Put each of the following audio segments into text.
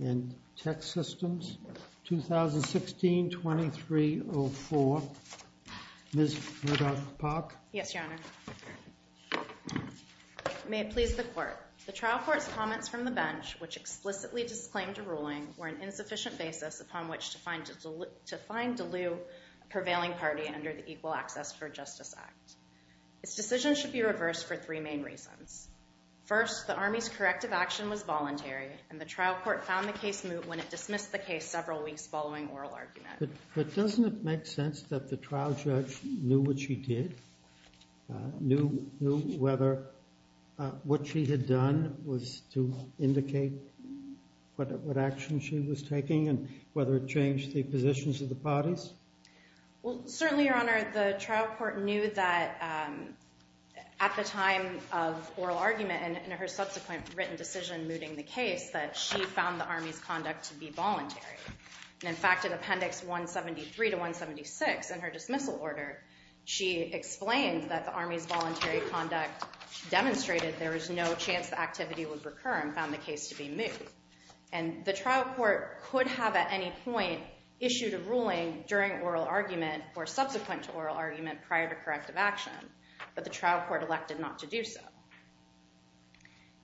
in Tech Systems, 2016-2304. Ms. Murdoch-Pack? Yes, Your Honor. May it please the Court. The trial court's comments from the bench, which explicitly disclaimed a ruling, were an insufficient basis upon which to find Delew a prevailing party under the Equal Access for Justice Act. This decision should be reversed for three main reasons. First, the Army's corrective action was voluntary, and the trial court found the case moot when it dismissed the case several weeks following oral argument. But doesn't it make sense that the trial judge knew what she did? Knew whether what she had done was to indicate what action she was taking and whether it changed the positions of the parties? Well, certainly, Your Honor, the trial court knew that at the time of oral argument and in her subsequent written decision mooting the case that she found the Army's conduct to be voluntary. And in fact, in Appendix 173 to 176 in her dismissal order, she explained that the Army's voluntary conduct demonstrated there was no chance the activity would recur and found the case to be moot. And the trial court could have at any point issued a ruling during oral argument or subsequent to oral argument prior to corrective action, but the trial court elected not to do so.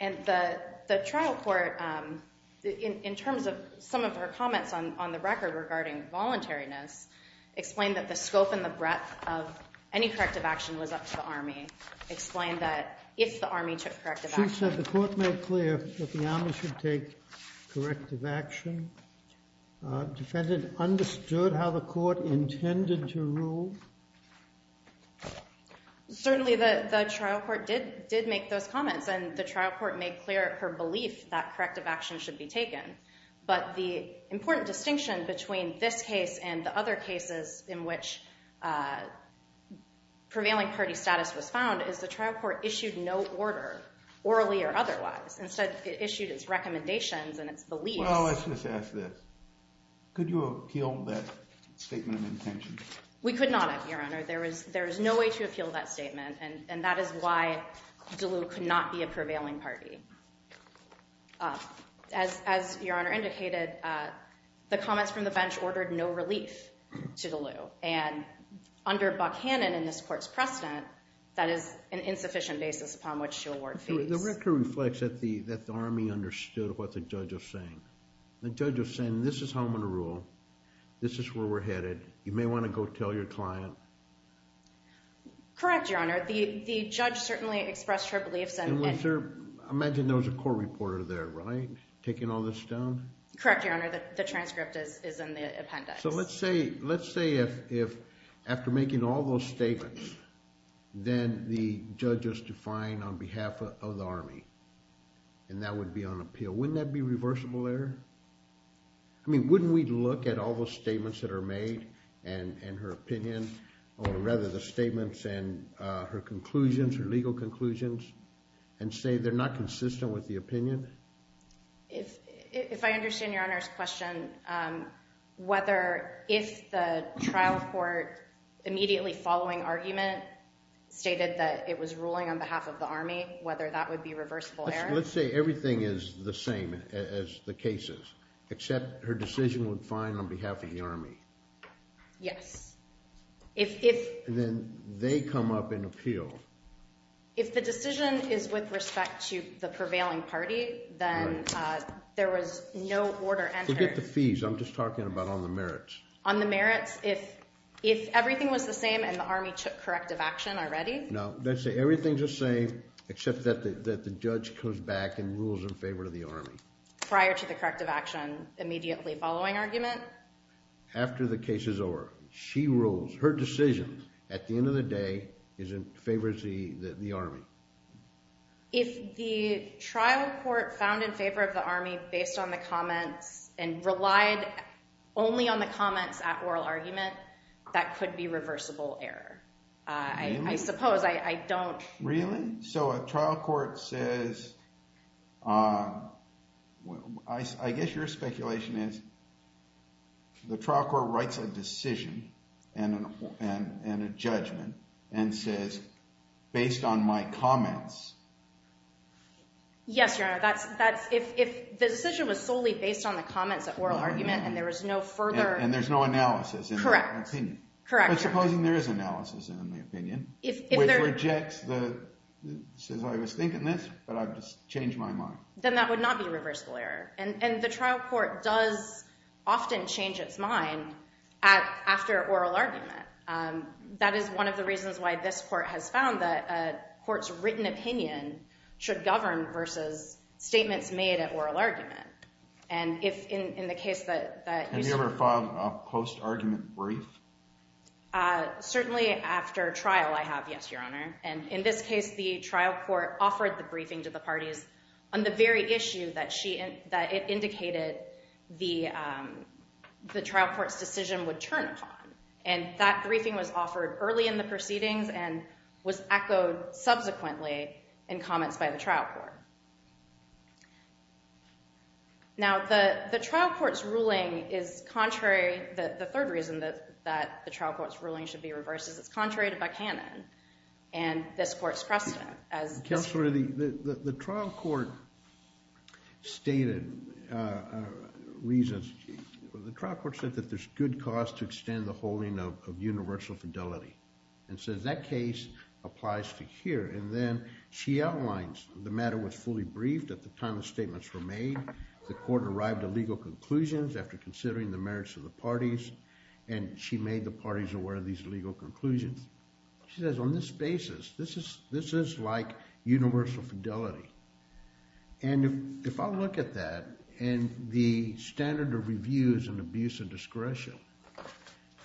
And the trial court, in terms of some of her comments on the record regarding voluntariness, explained that the scope and the breadth of any corrective action was up to the Army, explained that if the Army took corrective action. She said the court made clear that the Army should take corrective action. Defendant understood how the court intended to rule? Certainly, the trial court did make those comments, and the trial court made clear her belief that corrective action should be taken. But the important distinction between this case and the other cases in which prevailing party status was found is the trial court issued no order, orally or otherwise. Instead, it issued its recommendations and its beliefs. Well, let's just ask this. Could you appeal that statement of intention? We could not, Your Honor. There is no way to appeal that statement, and that is why DeLieu could not be a prevailing party. As Your Honor indicated, the comments from the bench ordered no relief to DeLieu. And under Buckhannon in this court's precedent, that is an insufficient basis upon which to award fees. The record reflects that the Army understood what the judge was saying. The judge was saying, this is how I'm going to rule. This is where we're headed. You may want to go tell your client. Correct, Your Honor. The judge certainly expressed her beliefs. And was there, I imagine there was a court reporter there, right, taking all this down? Correct, Your Honor. The transcript is in the appendix. So let's say if, after making all those statements, then the judge is defiant on behalf of the Army, and that would be on appeal. Wouldn't that be reversible error? I mean, wouldn't we look at all those statements that are made and her opinion, or rather the statements and her conclusions, her legal conclusions, and say they're not consistent with the opinion? If I understand Your Honor's question, whether if the trial court immediately following argument stated that it was ruling on behalf of the Army, whether that would be reversible error? Let's say everything is the same as the cases, except her decision would find on behalf of the Army. Yes. And then they come up and appeal. If the decision is with respect to the prevailing party, then there was no order entered. Forget the fees. I'm just talking about on the merits. On the merits, if everything was the same and the Army took corrective action already? No. Let's say everything's the same, except that the judge comes back and rules in favor of the Army. Prior to the corrective action, immediately following argument? After the case is over. She rules. Her decision, at the end of the day, favors the Army. If the trial court found in favor of the Army based on the comments and relied only on the comments at oral argument, that could be reversible error. I suppose. I don't... Really? So a trial court says... I guess your speculation is the trial court writes a decision and a judgment and says, based on my comments... Yes, Your Honor. If the decision was solely based on the comments at oral argument and there was no further... And there's no analysis in that opinion. Correct. But supposing there is analysis in the opinion, which rejects the... Says, I was thinking this, but I've just changed my mind. Then that would not be reversible error. And the trial court does often change its mind after oral argument. That is one of the reasons why this court has found that a court's written opinion should govern versus statements made at oral argument. And if in the case that... Have you ever filed a post-argument brief? Certainly after trial, I have, yes, Your Honor. And in this case, the trial court offered the turn upon. And that briefing was offered early in the proceedings and was echoed subsequently in comments by the trial court. Now, the trial court's ruling is contrary... The third reason that the trial court's ruling should be reversed is it's contrary to Buchanan and this court's precedent as... Counselor, the trial court stated a reason. The trial court said that there's good cause to extend the holding of universal fidelity. And says that case applies to here. And then she outlines the matter was fully briefed at the time the statements were made. The court arrived at legal conclusions after considering the merits of the parties. And she made the parties aware of these legal conclusions. She says, on this basis, this is like universal fidelity. And if I look at that and the standard of reviews and abuse of discretion,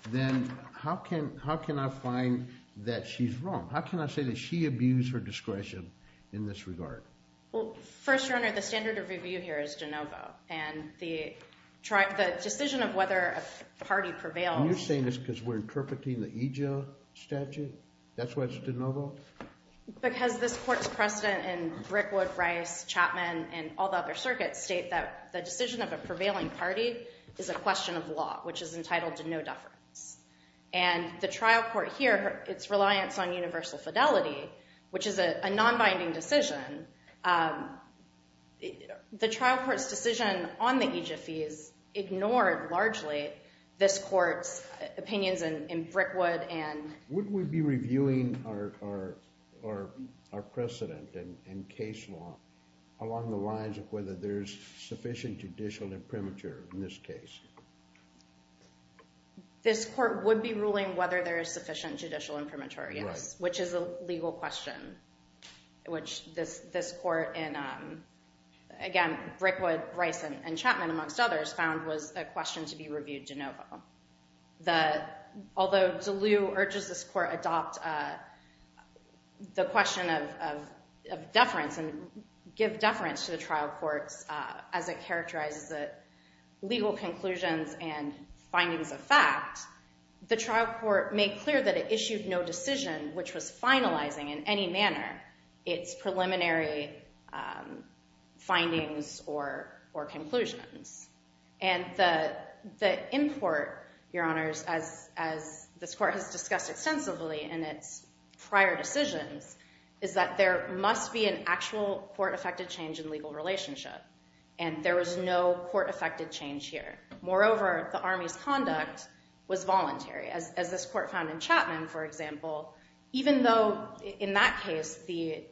then how can I find that she's wrong? How can I say that she abused her discretion in this regard? Well, first, Your Honor, the standard of review here is de novo. And the decision of whether a party prevails... That's why it's de novo? Because this court's precedent in Brickwood, Rice, Chapman, and all the other circuits state that the decision of a prevailing party is a question of law, which is entitled to no deference. And the trial court here, its reliance on universal fidelity, which is a non-binding decision, the trial court's decision on the aegyphes ignored largely this court's in Brickwood and... Would we be reviewing our precedent and case law along the lines of whether there's sufficient judicial imprimatur in this case? This court would be ruling whether there is sufficient judicial imprimatur, yes, which is a legal question, which this court in, again, Brickwood, Rice, and Chapman, amongst others, found was a question to be reviewed de novo. The... Although Deleux urges this court adopt the question of deference and give deference to the trial courts as it characterizes the legal conclusions and findings of fact, the trial court made clear that it issued no decision which was finalizing in any manner its preliminary findings or conclusions. And the import, Your Honors, as this court has discussed extensively in its prior decisions is that there must be an actual court-affected change in legal relationship and there was no court-affected change here. Moreover, the army's conduct was voluntary, as this court found in Chapman, for example, even though in that case the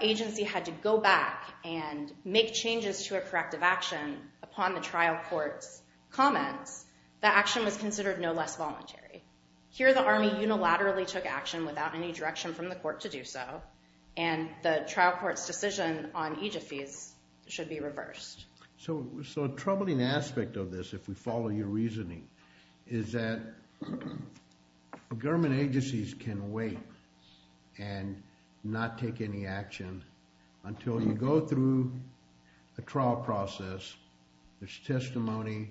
agency had to go back and make changes to a corrective action upon the trial court's comments, the action was considered no less voluntary. Here, the army unilaterally took action without any direction from the court to do so and the trial court's decision on aegyphes should be reversed. So a troubling aspect of this, if we follow your reasoning, is that government agencies can wait and not take any action until you go through a trial process, there's testimony,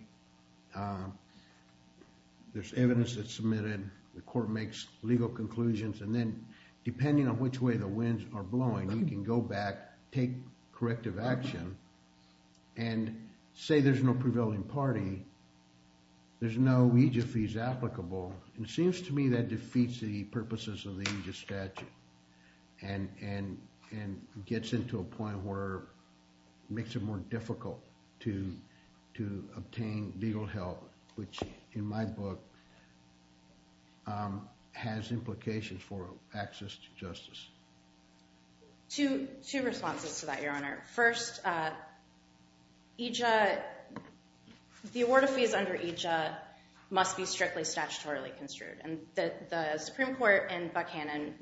there's evidence that's submitted, the court makes legal conclusions, and then depending on which way the winds are blowing, you can go back, take corrective action, and say there's no prevailing party, there's no aegyphes applicable. It seems to me that defeats the purposes of the aegyphs statute and gets into a point where it makes it more difficult to obtain legal help, which in my book has implications for access to justice. Two responses to that, your honor. First, the award of fees under AEGYPH must be strictly statutorily construed, and the Supreme Court and Buchanan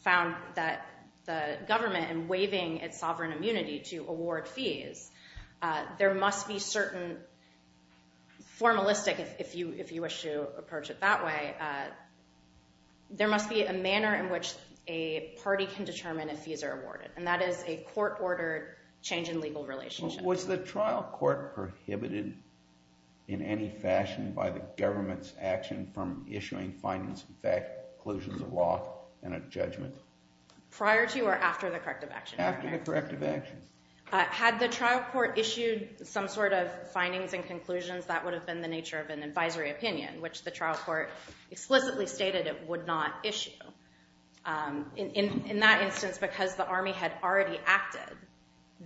found that the government, in waiving its sovereign immunity to award fees, there must be certain formalistic, if you wish to approach it that way, there must be a manner in which a party can determine if fees are awarded, and that is a court-ordered change in legal relationship. Was the trial court prohibited in any fashion by the government's action from issuing findings of fact, conclusions of law, and a judgment? Prior to or after the corrective action? After the corrective action. Had the trial court issued some sort of findings and conclusions, that would have been the nature of an advisory opinion, which the trial court explicitly stated it would not issue. In that instance, because the army had already acted,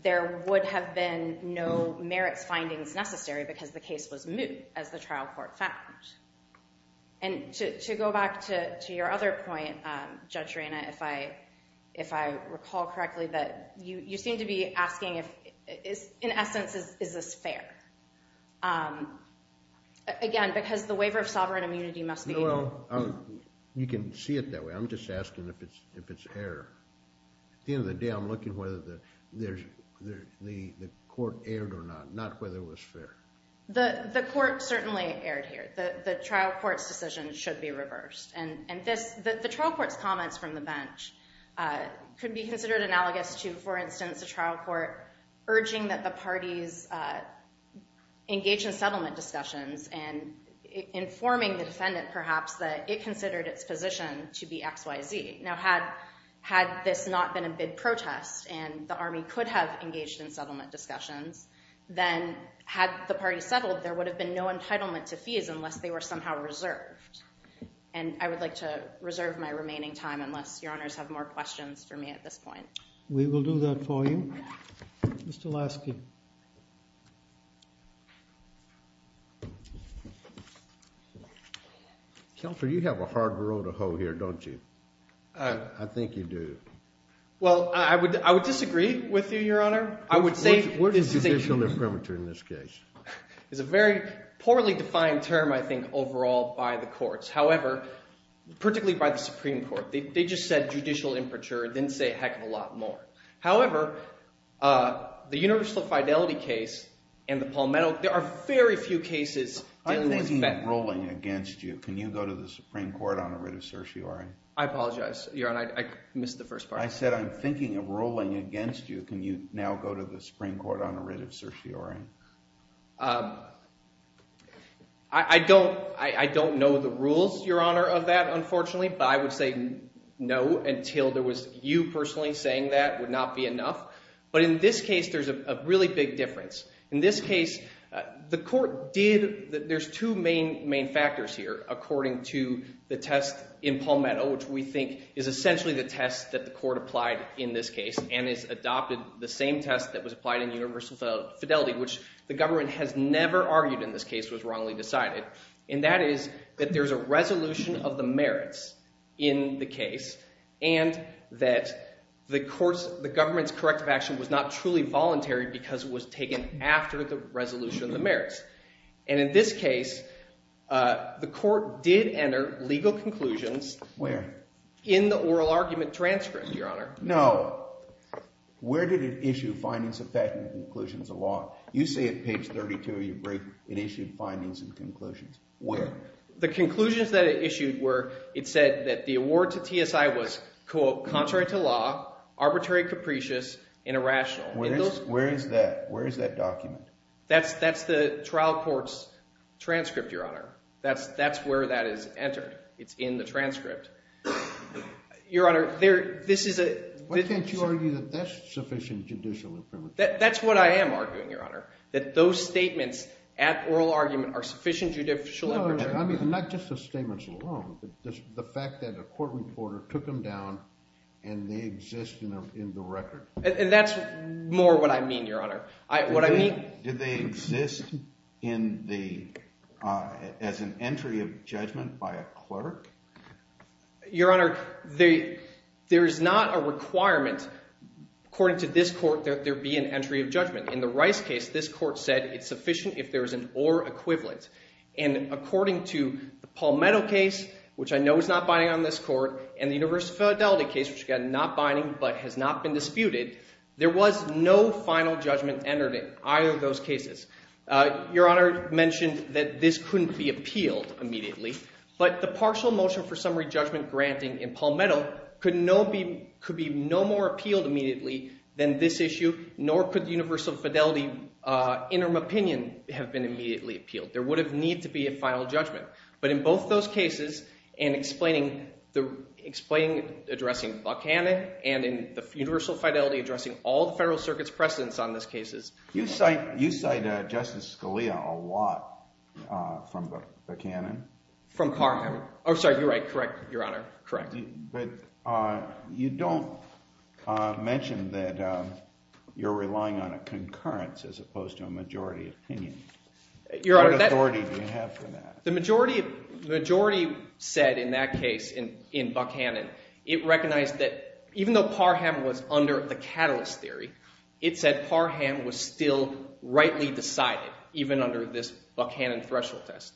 there would have been no merits findings necessary because the case was moot, as the trial court found. And to go back to your other point, Judge Reina, if I recall correctly, that you seem to be asking if, in essence, is this fair? Again, because the waiver of sovereign immunity must be... No, well, you can see it that way. I'm just asking if it's fair. At the end of the day, I'm looking whether the court erred or not, not whether it was fair. The court certainly erred here. The trial court's decision should be reversed, and the trial court's comments from the bench could be considered analogous to, for instance, a trial court urging that the parties engage in settlement discussions and informing the defendant, perhaps, that it considered its position to be X, Y, Z. Now, had this not been a bid protest and the army could have engaged in settlement discussions, then had the party settled, there would have been no time, unless your honors have more questions for me at this point. We will do that for you. Mr. Lasky. Kelfer, you have a hard road to hoe here, don't you? I think you do. Well, I would disagree with you, your honor. I would say... What is judicially premature in this case? It's a very poorly defined term, I think, overall by the courts. However, particularly by the Supreme Court, they just said judicial impreture. It didn't say a heck of a lot more. However, the universal fidelity case and the Palmetto, there are very few cases... I'm thinking of ruling against you. Can you go to the Supreme Court on a writ of certiorari? I apologize, your honor. I missed the first part. I said I'm thinking of ruling against you. Can you now go to the Supreme Court on a writ of certiorari? Um, I don't know the rules, your honor, of that, unfortunately. But I would say no, until there was you personally saying that would not be enough. But in this case, there's a really big difference. In this case, the court did... There's two main factors here, according to the test in Palmetto, which we think is essentially the test that the court applied in this case, and has adopted the same test that was applied in universal fidelity, which the government has never argued in this case was wrongly decided. And that is that there's a resolution of the merits in the case, and that the courts, the government's corrective action was not truly voluntary because it was taken after the resolution of the merits. And in this case, the court did enter legal conclusions... Where? In the oral argument transcript, your honor. No. Where did it issue findings of fact and conclusions of law? You say at page 32 of your brief, it issued findings and conclusions. Where? The conclusions that it issued were, it said that the award to TSI was, quote, contrary to law, arbitrary, capricious, and irrational. Where is that? Where is that document? That's the trial court's transcript, your honor. That's where that is entered. It's in the Why can't you argue that that's sufficient judicial imprimatur? That's what I am arguing, your honor, that those statements at oral argument are sufficient judicial imprimatur. I mean, not just the statements alone, but the fact that a court reporter took them down and they exist in the record. And that's more what I mean, your honor. What I mean... Did they exist as an entry of judgment by a clerk? Your honor, there is not a requirement, according to this court, that there be an entry of judgment. In the Rice case, this court said it's sufficient if there is an or equivalent. And according to the Palmetto case, which I know is not binding on this court, and the University of Philadelphia case, which again, not binding, but has not been disputed, there was no final judgment entered in either of those cases. Your honor mentioned that this couldn't be appealed immediately, but the partial motion for summary judgment granting in Palmetto could be no more appealed immediately than this issue, nor could the universal fidelity interim opinion have been immediately appealed. There would have needed to be a final judgment. But in both those cases, in explaining, addressing Buckhannon, and in the universal fidelity addressing all the Federal Circuit's precedents on this case... You cite Justice Scalia a lot from Buckhannon. From Parham. Oh, sorry, you're right, correct, your honor, correct. But you don't mention that you're relying on a concurrence, as opposed to a majority opinion. What authority do you have for that? The majority said, in that case, in Buckhannon, it recognized that even though Parham was under the catalyst theory, it said Parham was still rightly decided, even under this Buckhannon threshold test.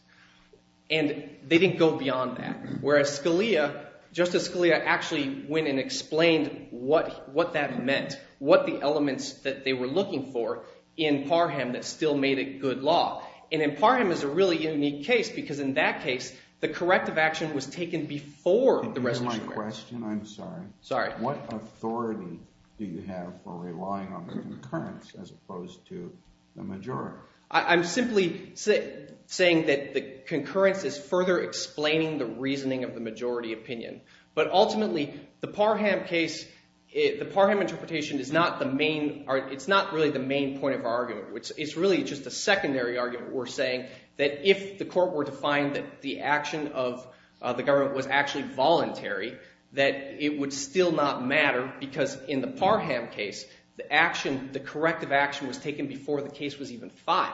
And they didn't go beyond that, whereas Scalia, Justice Scalia actually went and explained what that meant, what the elements that they were looking for in Parham that still made it good law. And in Parham, it's a really unique case, because in that case, the corrective action was taken before the resolution. And here's my question, I'm sorry. Sorry. What authority do you have for relying on the concurrence, as opposed to the majority? I'm simply saying that the concurrence is further explaining the reasoning of the majority opinion. But ultimately, the Parham case, the Parham interpretation is not the main, it's not really the main point of argument, which is really just a secondary argument. We're saying that if the court were to find that the action of the government was actually voluntary, that it would still not matter, because in the Parham case, the corrective action was taken before the case was even filed.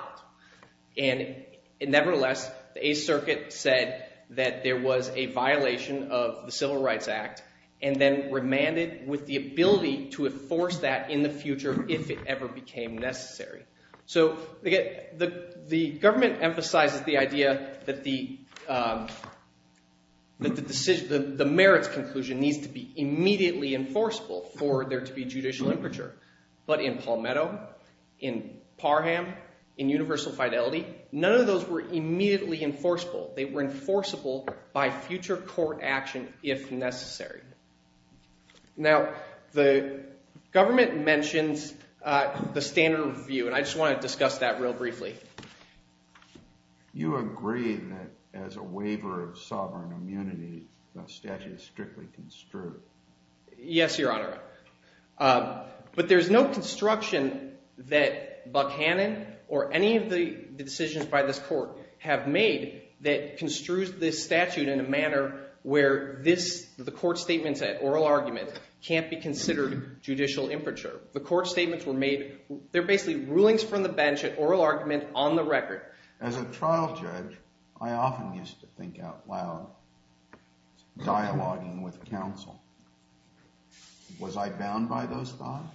And nevertheless, the Eighth Circuit said that there was a violation of the Civil Rights Act, and then remanded with the ability to enforce that in the future, if it ever became necessary. So, the government emphasizes the idea that the merits conclusion needs to be immediately enforceable for there to be judicial infringement. But in Palmetto, in Parham, in Universal Fidelity, none of those were immediately enforceable. They were enforceable by future court action, if necessary. Now, the government mentions the standard of review, and I just want to discuss that real briefly. You agree that as a waiver of sovereign immunity, the statute is strictly construed. Yes, Your Honor. But there's no construction that Buckhannon or any of the decisions by this court have made that construes this statute in a manner where the court statements at oral argument can't be considered judicial infringement. The court statements were made, they're basically rulings from the bench at oral argument on the record. As a trial judge, I often used to think out loud, dialoguing with counsel. Was I bound by those thoughts?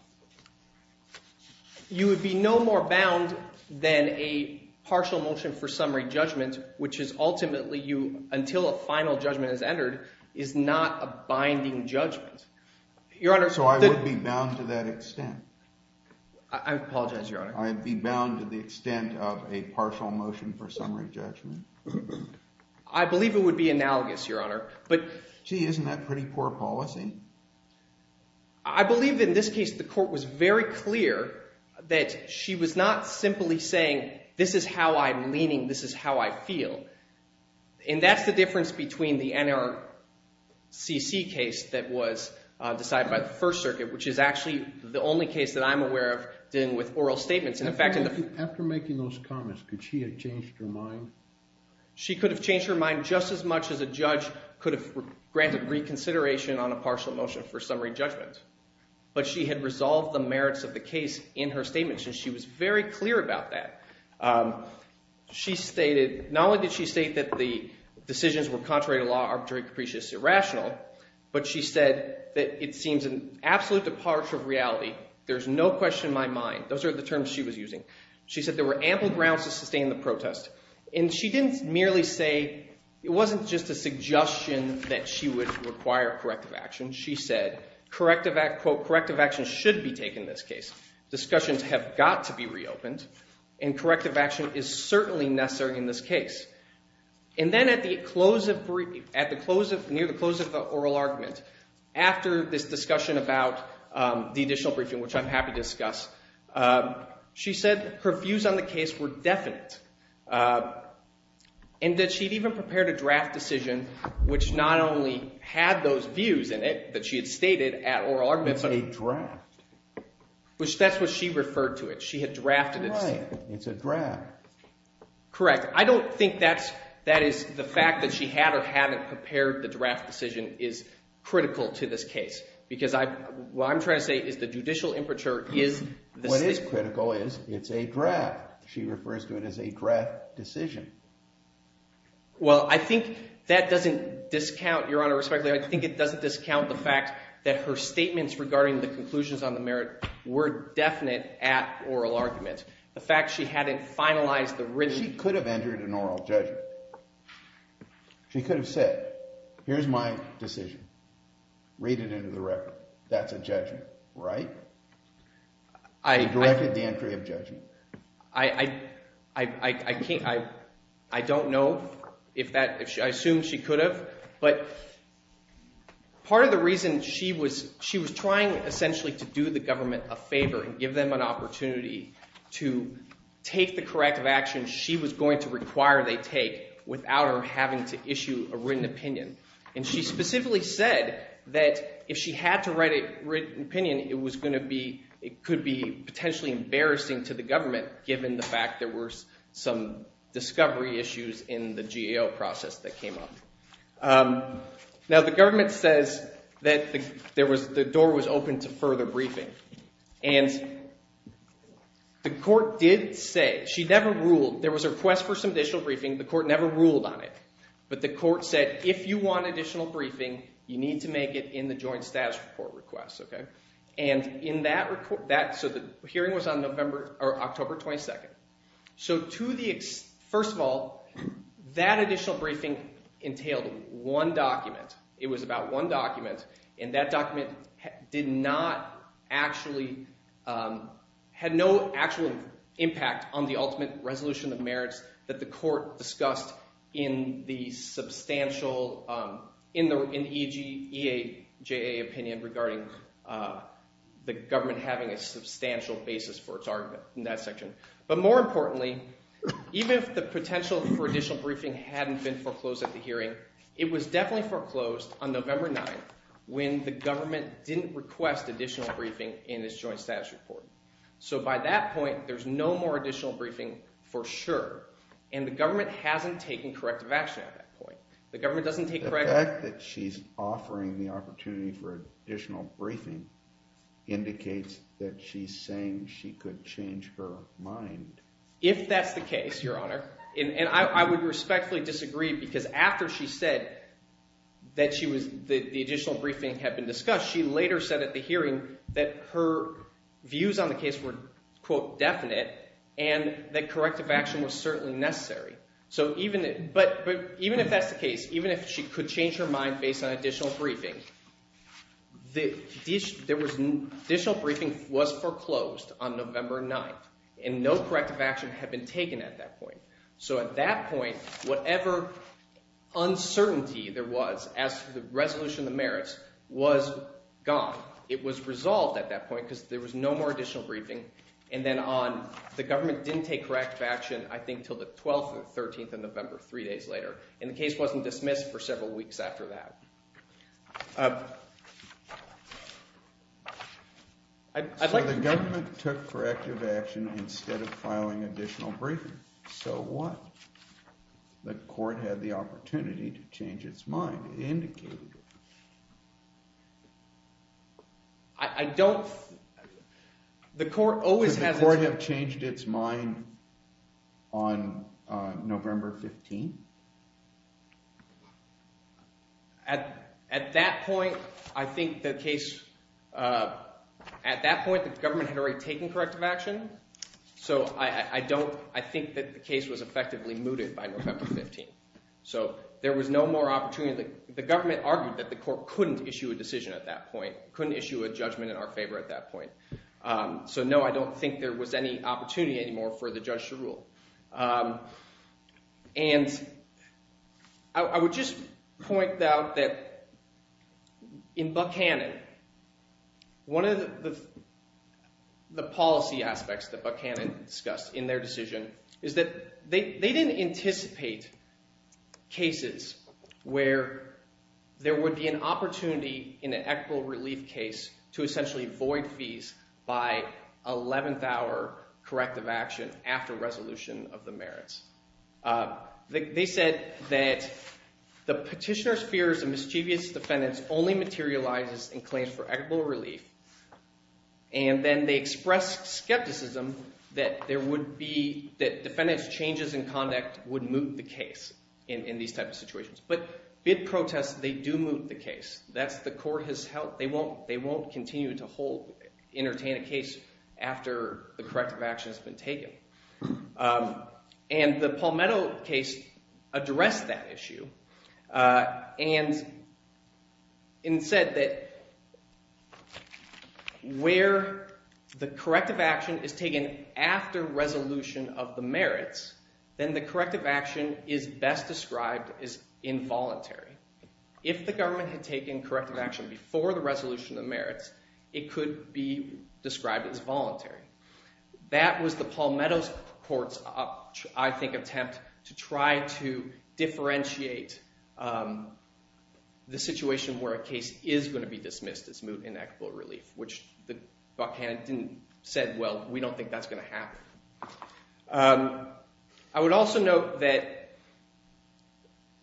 You would be no more bound than a partial motion for summary judgment, which is ultimately you, until a final judgment is entered, is not a binding judgment. Your Honor, so I would be bound to that extent. I apologize, Your Honor. I'd be bound to the extent of a partial motion for summary judgment. I believe it would be analogous, Your Honor. But gee, isn't that pretty poor policy? I believe in this case, the court was very clear that she was not simply saying, this is how I'm leaning, this is how I feel. And that's the difference between the NRCC case that was decided by the First Circuit, which is actually the only case that I'm aware of dealing with oral statements. And in fact, after making those comments, could she have changed her mind? She could have changed her mind just as much as a judge could have granted reconsideration on a partial motion for summary judgment. But she had resolved the merits of the case in her statements, and she was very clear about that. Not only did she state that the decisions were contrary to law, arbitrary, capricious, irrational, but she said that it seems an absolute departure of reality. There's no question in my mind. Those are the terms she was using. She said there were ample grounds to sustain the protest. And she didn't merely say, it wasn't just a suggestion that she would require corrective action. She said, quote, corrective action should be taken in this case. Discussions have got to be reopened. And corrective action is certainly necessary in this case. And then at the close of the oral argument, after this discussion about the additional briefing, which I'm happy to discuss, she said her views on the case were definite. And that she'd even prepared a draft decision, which not only had those views in it that she had stated at oral argument, but a draft, which that's what she referred to it. She had drafted it. Right. It's a draft. Correct. I don't think that is the fact that she had or haven't prepared the draft decision is critical to this case. Because what I'm trying to say is the judicial imperature is the state. What is critical is it's a draft. She refers to it as a draft decision. Well, I think that doesn't discount, Your Honor, respectfully, I think it doesn't discount the fact that her statements regarding the conclusions on the merit were definite at oral argument. The fact she hadn't finalized the written. She could have entered an oral judgment. She could have said, here's my decision. Read it into the record. That's a judgment, right? I directed the entry of judgment. I don't know if that, I assume she could have. But part of the reason she was trying, essentially, to do the government a favor and give them an opportunity to take the corrective action she was going to require they take without her having to issue a written opinion. And she specifically said that if she had to write a written opinion, it could be potentially embarrassing to the government, given the fact there were some discovery issues in the GAO process that came up. Now, the government says that the door was open to further briefing. And the court did say, she never ruled. There was a request for some additional briefing. The court never ruled on it. But the court said, if you want additional briefing, you need to make it in the joint status report request. And in that report, so the hearing was on October 22nd. So to the, first of all, that additional briefing entailed one document. It was about one document. And that document did not actually, had no actual impact on the ultimate resolution of merits that the court discussed in the substantial, in the EGA opinion regarding the government having a substantial basis for its argument in that section. But more importantly, even if the potential for additional briefing hadn't been foreclosed at the hearing, it was definitely foreclosed on November 9th, when the government didn't request additional briefing in its joint status report. So by that point, there's no more additional briefing for sure. And the government hasn't taken corrective action at that point. The government doesn't take corrective action. The fact that she's offering the opportunity for additional briefing indicates that she's changed her mind. If that's the case, Your Honor, and I would respectfully disagree because after she said that she was, that the additional briefing had been discussed, she later said at the hearing that her views on the case were, quote, definite, and that corrective action was certainly necessary. So even, but even if that's the case, even if she could change her mind based on additional briefing, the additional briefing was foreclosed on November 9th. And no corrective action had been taken at that point. So at that point, whatever uncertainty there was as to the resolution of the merits was gone. It was resolved at that point because there was no more additional briefing. And then on, the government didn't take corrective action, I think, until the 12th or 13th of November, three days later. And the case wasn't dismissed for several weeks after that. So the government took corrective action instead of filing additional briefing. So what? The court had the opportunity to change its mind. It indicated it. I don't, the court always has. Could the court have changed its mind on November 15th? At that point, I think the case, at that point, the government had already taken corrective action. So I don't, I think that the case was effectively mooted by November 15th. So there was no more opportunity, the government argued that the court couldn't issue a decision at that point, couldn't issue a judgment in our favor at that point. So no, I don't think there was any opportunity anymore for the judge to rule. And I would just point out that in Buckhannon, one of the policy aspects that Buckhannon discussed in their decision is that they didn't anticipate cases where there would be an opportunity in an equitable relief case to essentially void fees by 11th hour corrective action after resolution. The merits. They said that the petitioner's fears of mischievous defendants only materializes in claims for equitable relief. And then they expressed skepticism that there would be, that defendants' changes in conduct would moot the case in these types of situations. But bid protests, they do moot the case. That's the court has held. They won't, they won't continue to hold, entertain a case after the corrective action has been taken. And the Palmetto case addressed that issue and said that where the corrective action is taken after resolution of the merits, then the corrective action is best described as involuntary. If the government had taken corrective action before the resolution of merits, it could be described as voluntary. That was the Palmetto court's, I think, attempt to try to differentiate the situation where a case is going to be dismissed as moot and equitable relief, which the buck hand didn't said, well, we don't think that's going to happen. I would also note that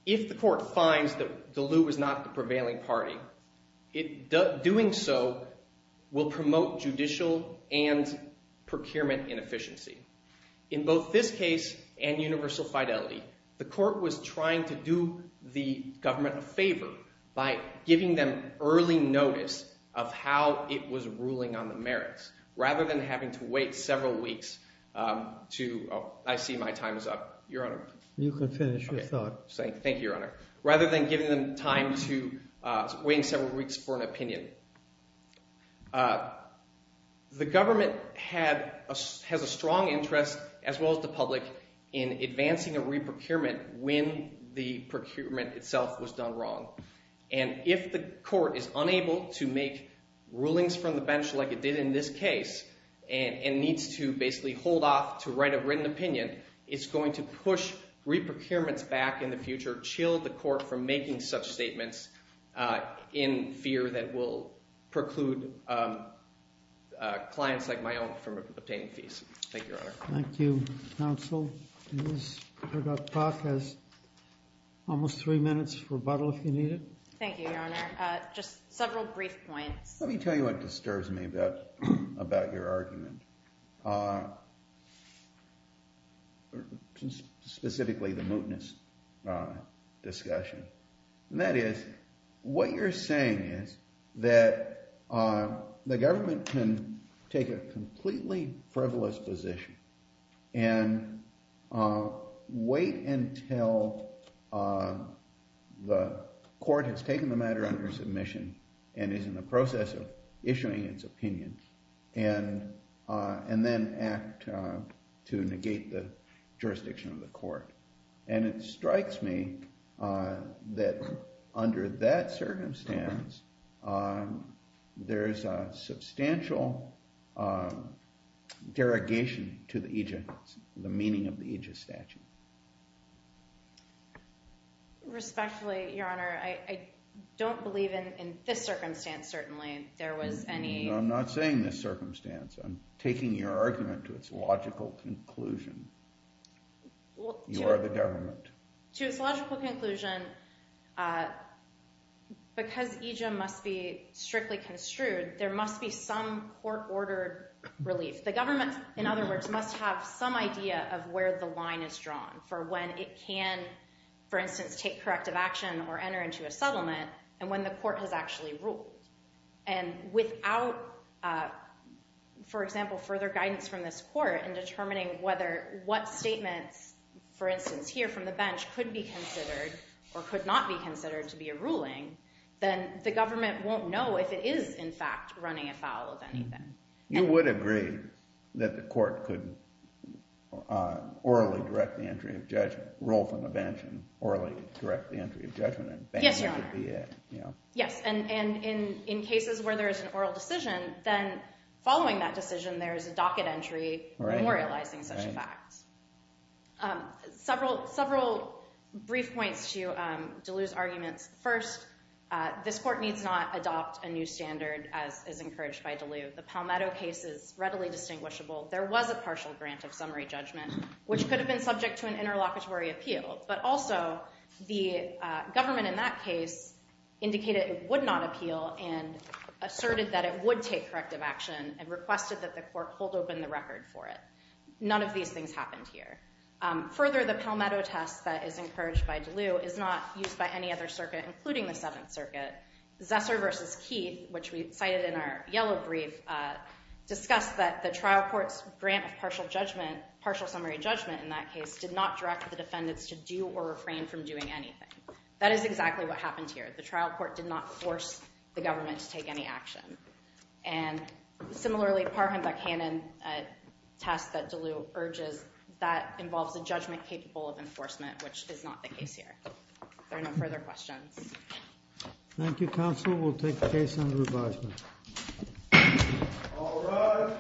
if the court finds that Duluth was not the prevailing party, it, doing so, will promote judicial and procurement inefficiency. In both this case and universal fidelity, the court was trying to do the government a favor by giving them early notice of how it was ruling on the merits, rather than having to wait several weeks to, oh, I see my time is up, Your Honor. You can finish your thought. Thank you, Your Honor. Rather than giving them time to wait several weeks for an opinion. The government has a strong interest, as well as the public, in advancing a re-procurement when the procurement itself was done wrong. And if the court is unable to make rulings from the bench like it did in this case, and needs to basically hold off to write a written opinion, it's going to push re-procurements back in the future, chill the court from making such statements in fear that will preclude clients like my own from obtaining fees. Thank you, Your Honor. Thank you, counsel. Ms. Herdot-Cock has almost three minutes for rebuttal if you need it. Thank you, Your Honor. Just several brief points. Let me tell you what disturbs me about your argument. Specifically, the mootness discussion. That is, what you're saying is that the government can take a completely frivolous position and wait until the court has taken the matter under submission and is in the process of issuing its opinion. And then act to negate the jurisdiction of the court. And it strikes me that under that circumstance, there is a substantial derogation to the meaning of the aegis statute. Respectfully, Your Honor, I don't believe in this circumstance, certainly. There was any- I'm not saying this circumstance. I'm taking your argument to its logical conclusion. You are the government. To its logical conclusion, because aegis must be strictly construed, there must be some court-ordered relief. The government, in other words, must have some idea of where the line is drawn for when it can, for instance, take corrective action or enter into a settlement and when the court has actually ruled. And without, for example, further guidance from this court in determining whether what statements, for instance, here from the bench could be considered or could not be considered to be a ruling, then the government won't know if it is, in fact, running afoul of anything. You would agree that the court could orally direct the entry of judgment, rule from the bench, and orally direct the entry of judgment, and then that would be it, you know? Yes, and in cases where there is an oral decision, then following that decision, there is a docket entry memorializing such a fact. Several brief points to Deleu's arguments. First, this court needs not adopt a new standard, as is encouraged by Deleu. The Palmetto case is readily distinguishable. There was a partial grant of summary judgment, which could have been subject to an interlocutory appeal, but also the government in that case indicated it would not appeal and asserted that it would take corrective action and requested that the court hold open the record for it. None of these things happened here. Further, the Palmetto test that is encouraged by Deleu is not used by any other circuit, including the Seventh Circuit. Zesser v. Keith, which we cited in our yellow brief, discussed that the trial court's grant of partial summary judgment in that case did not direct the defendants to do or refrain from doing anything. That is exactly what happened here. The trial court did not force the government to take any action. And similarly, Parham v. Hannon test that Deleu urges, that involves a judgment capable of enforcement, which is not the case here. Are there no further questions? Thank you, counsel. We'll take the case under advisement. All rise.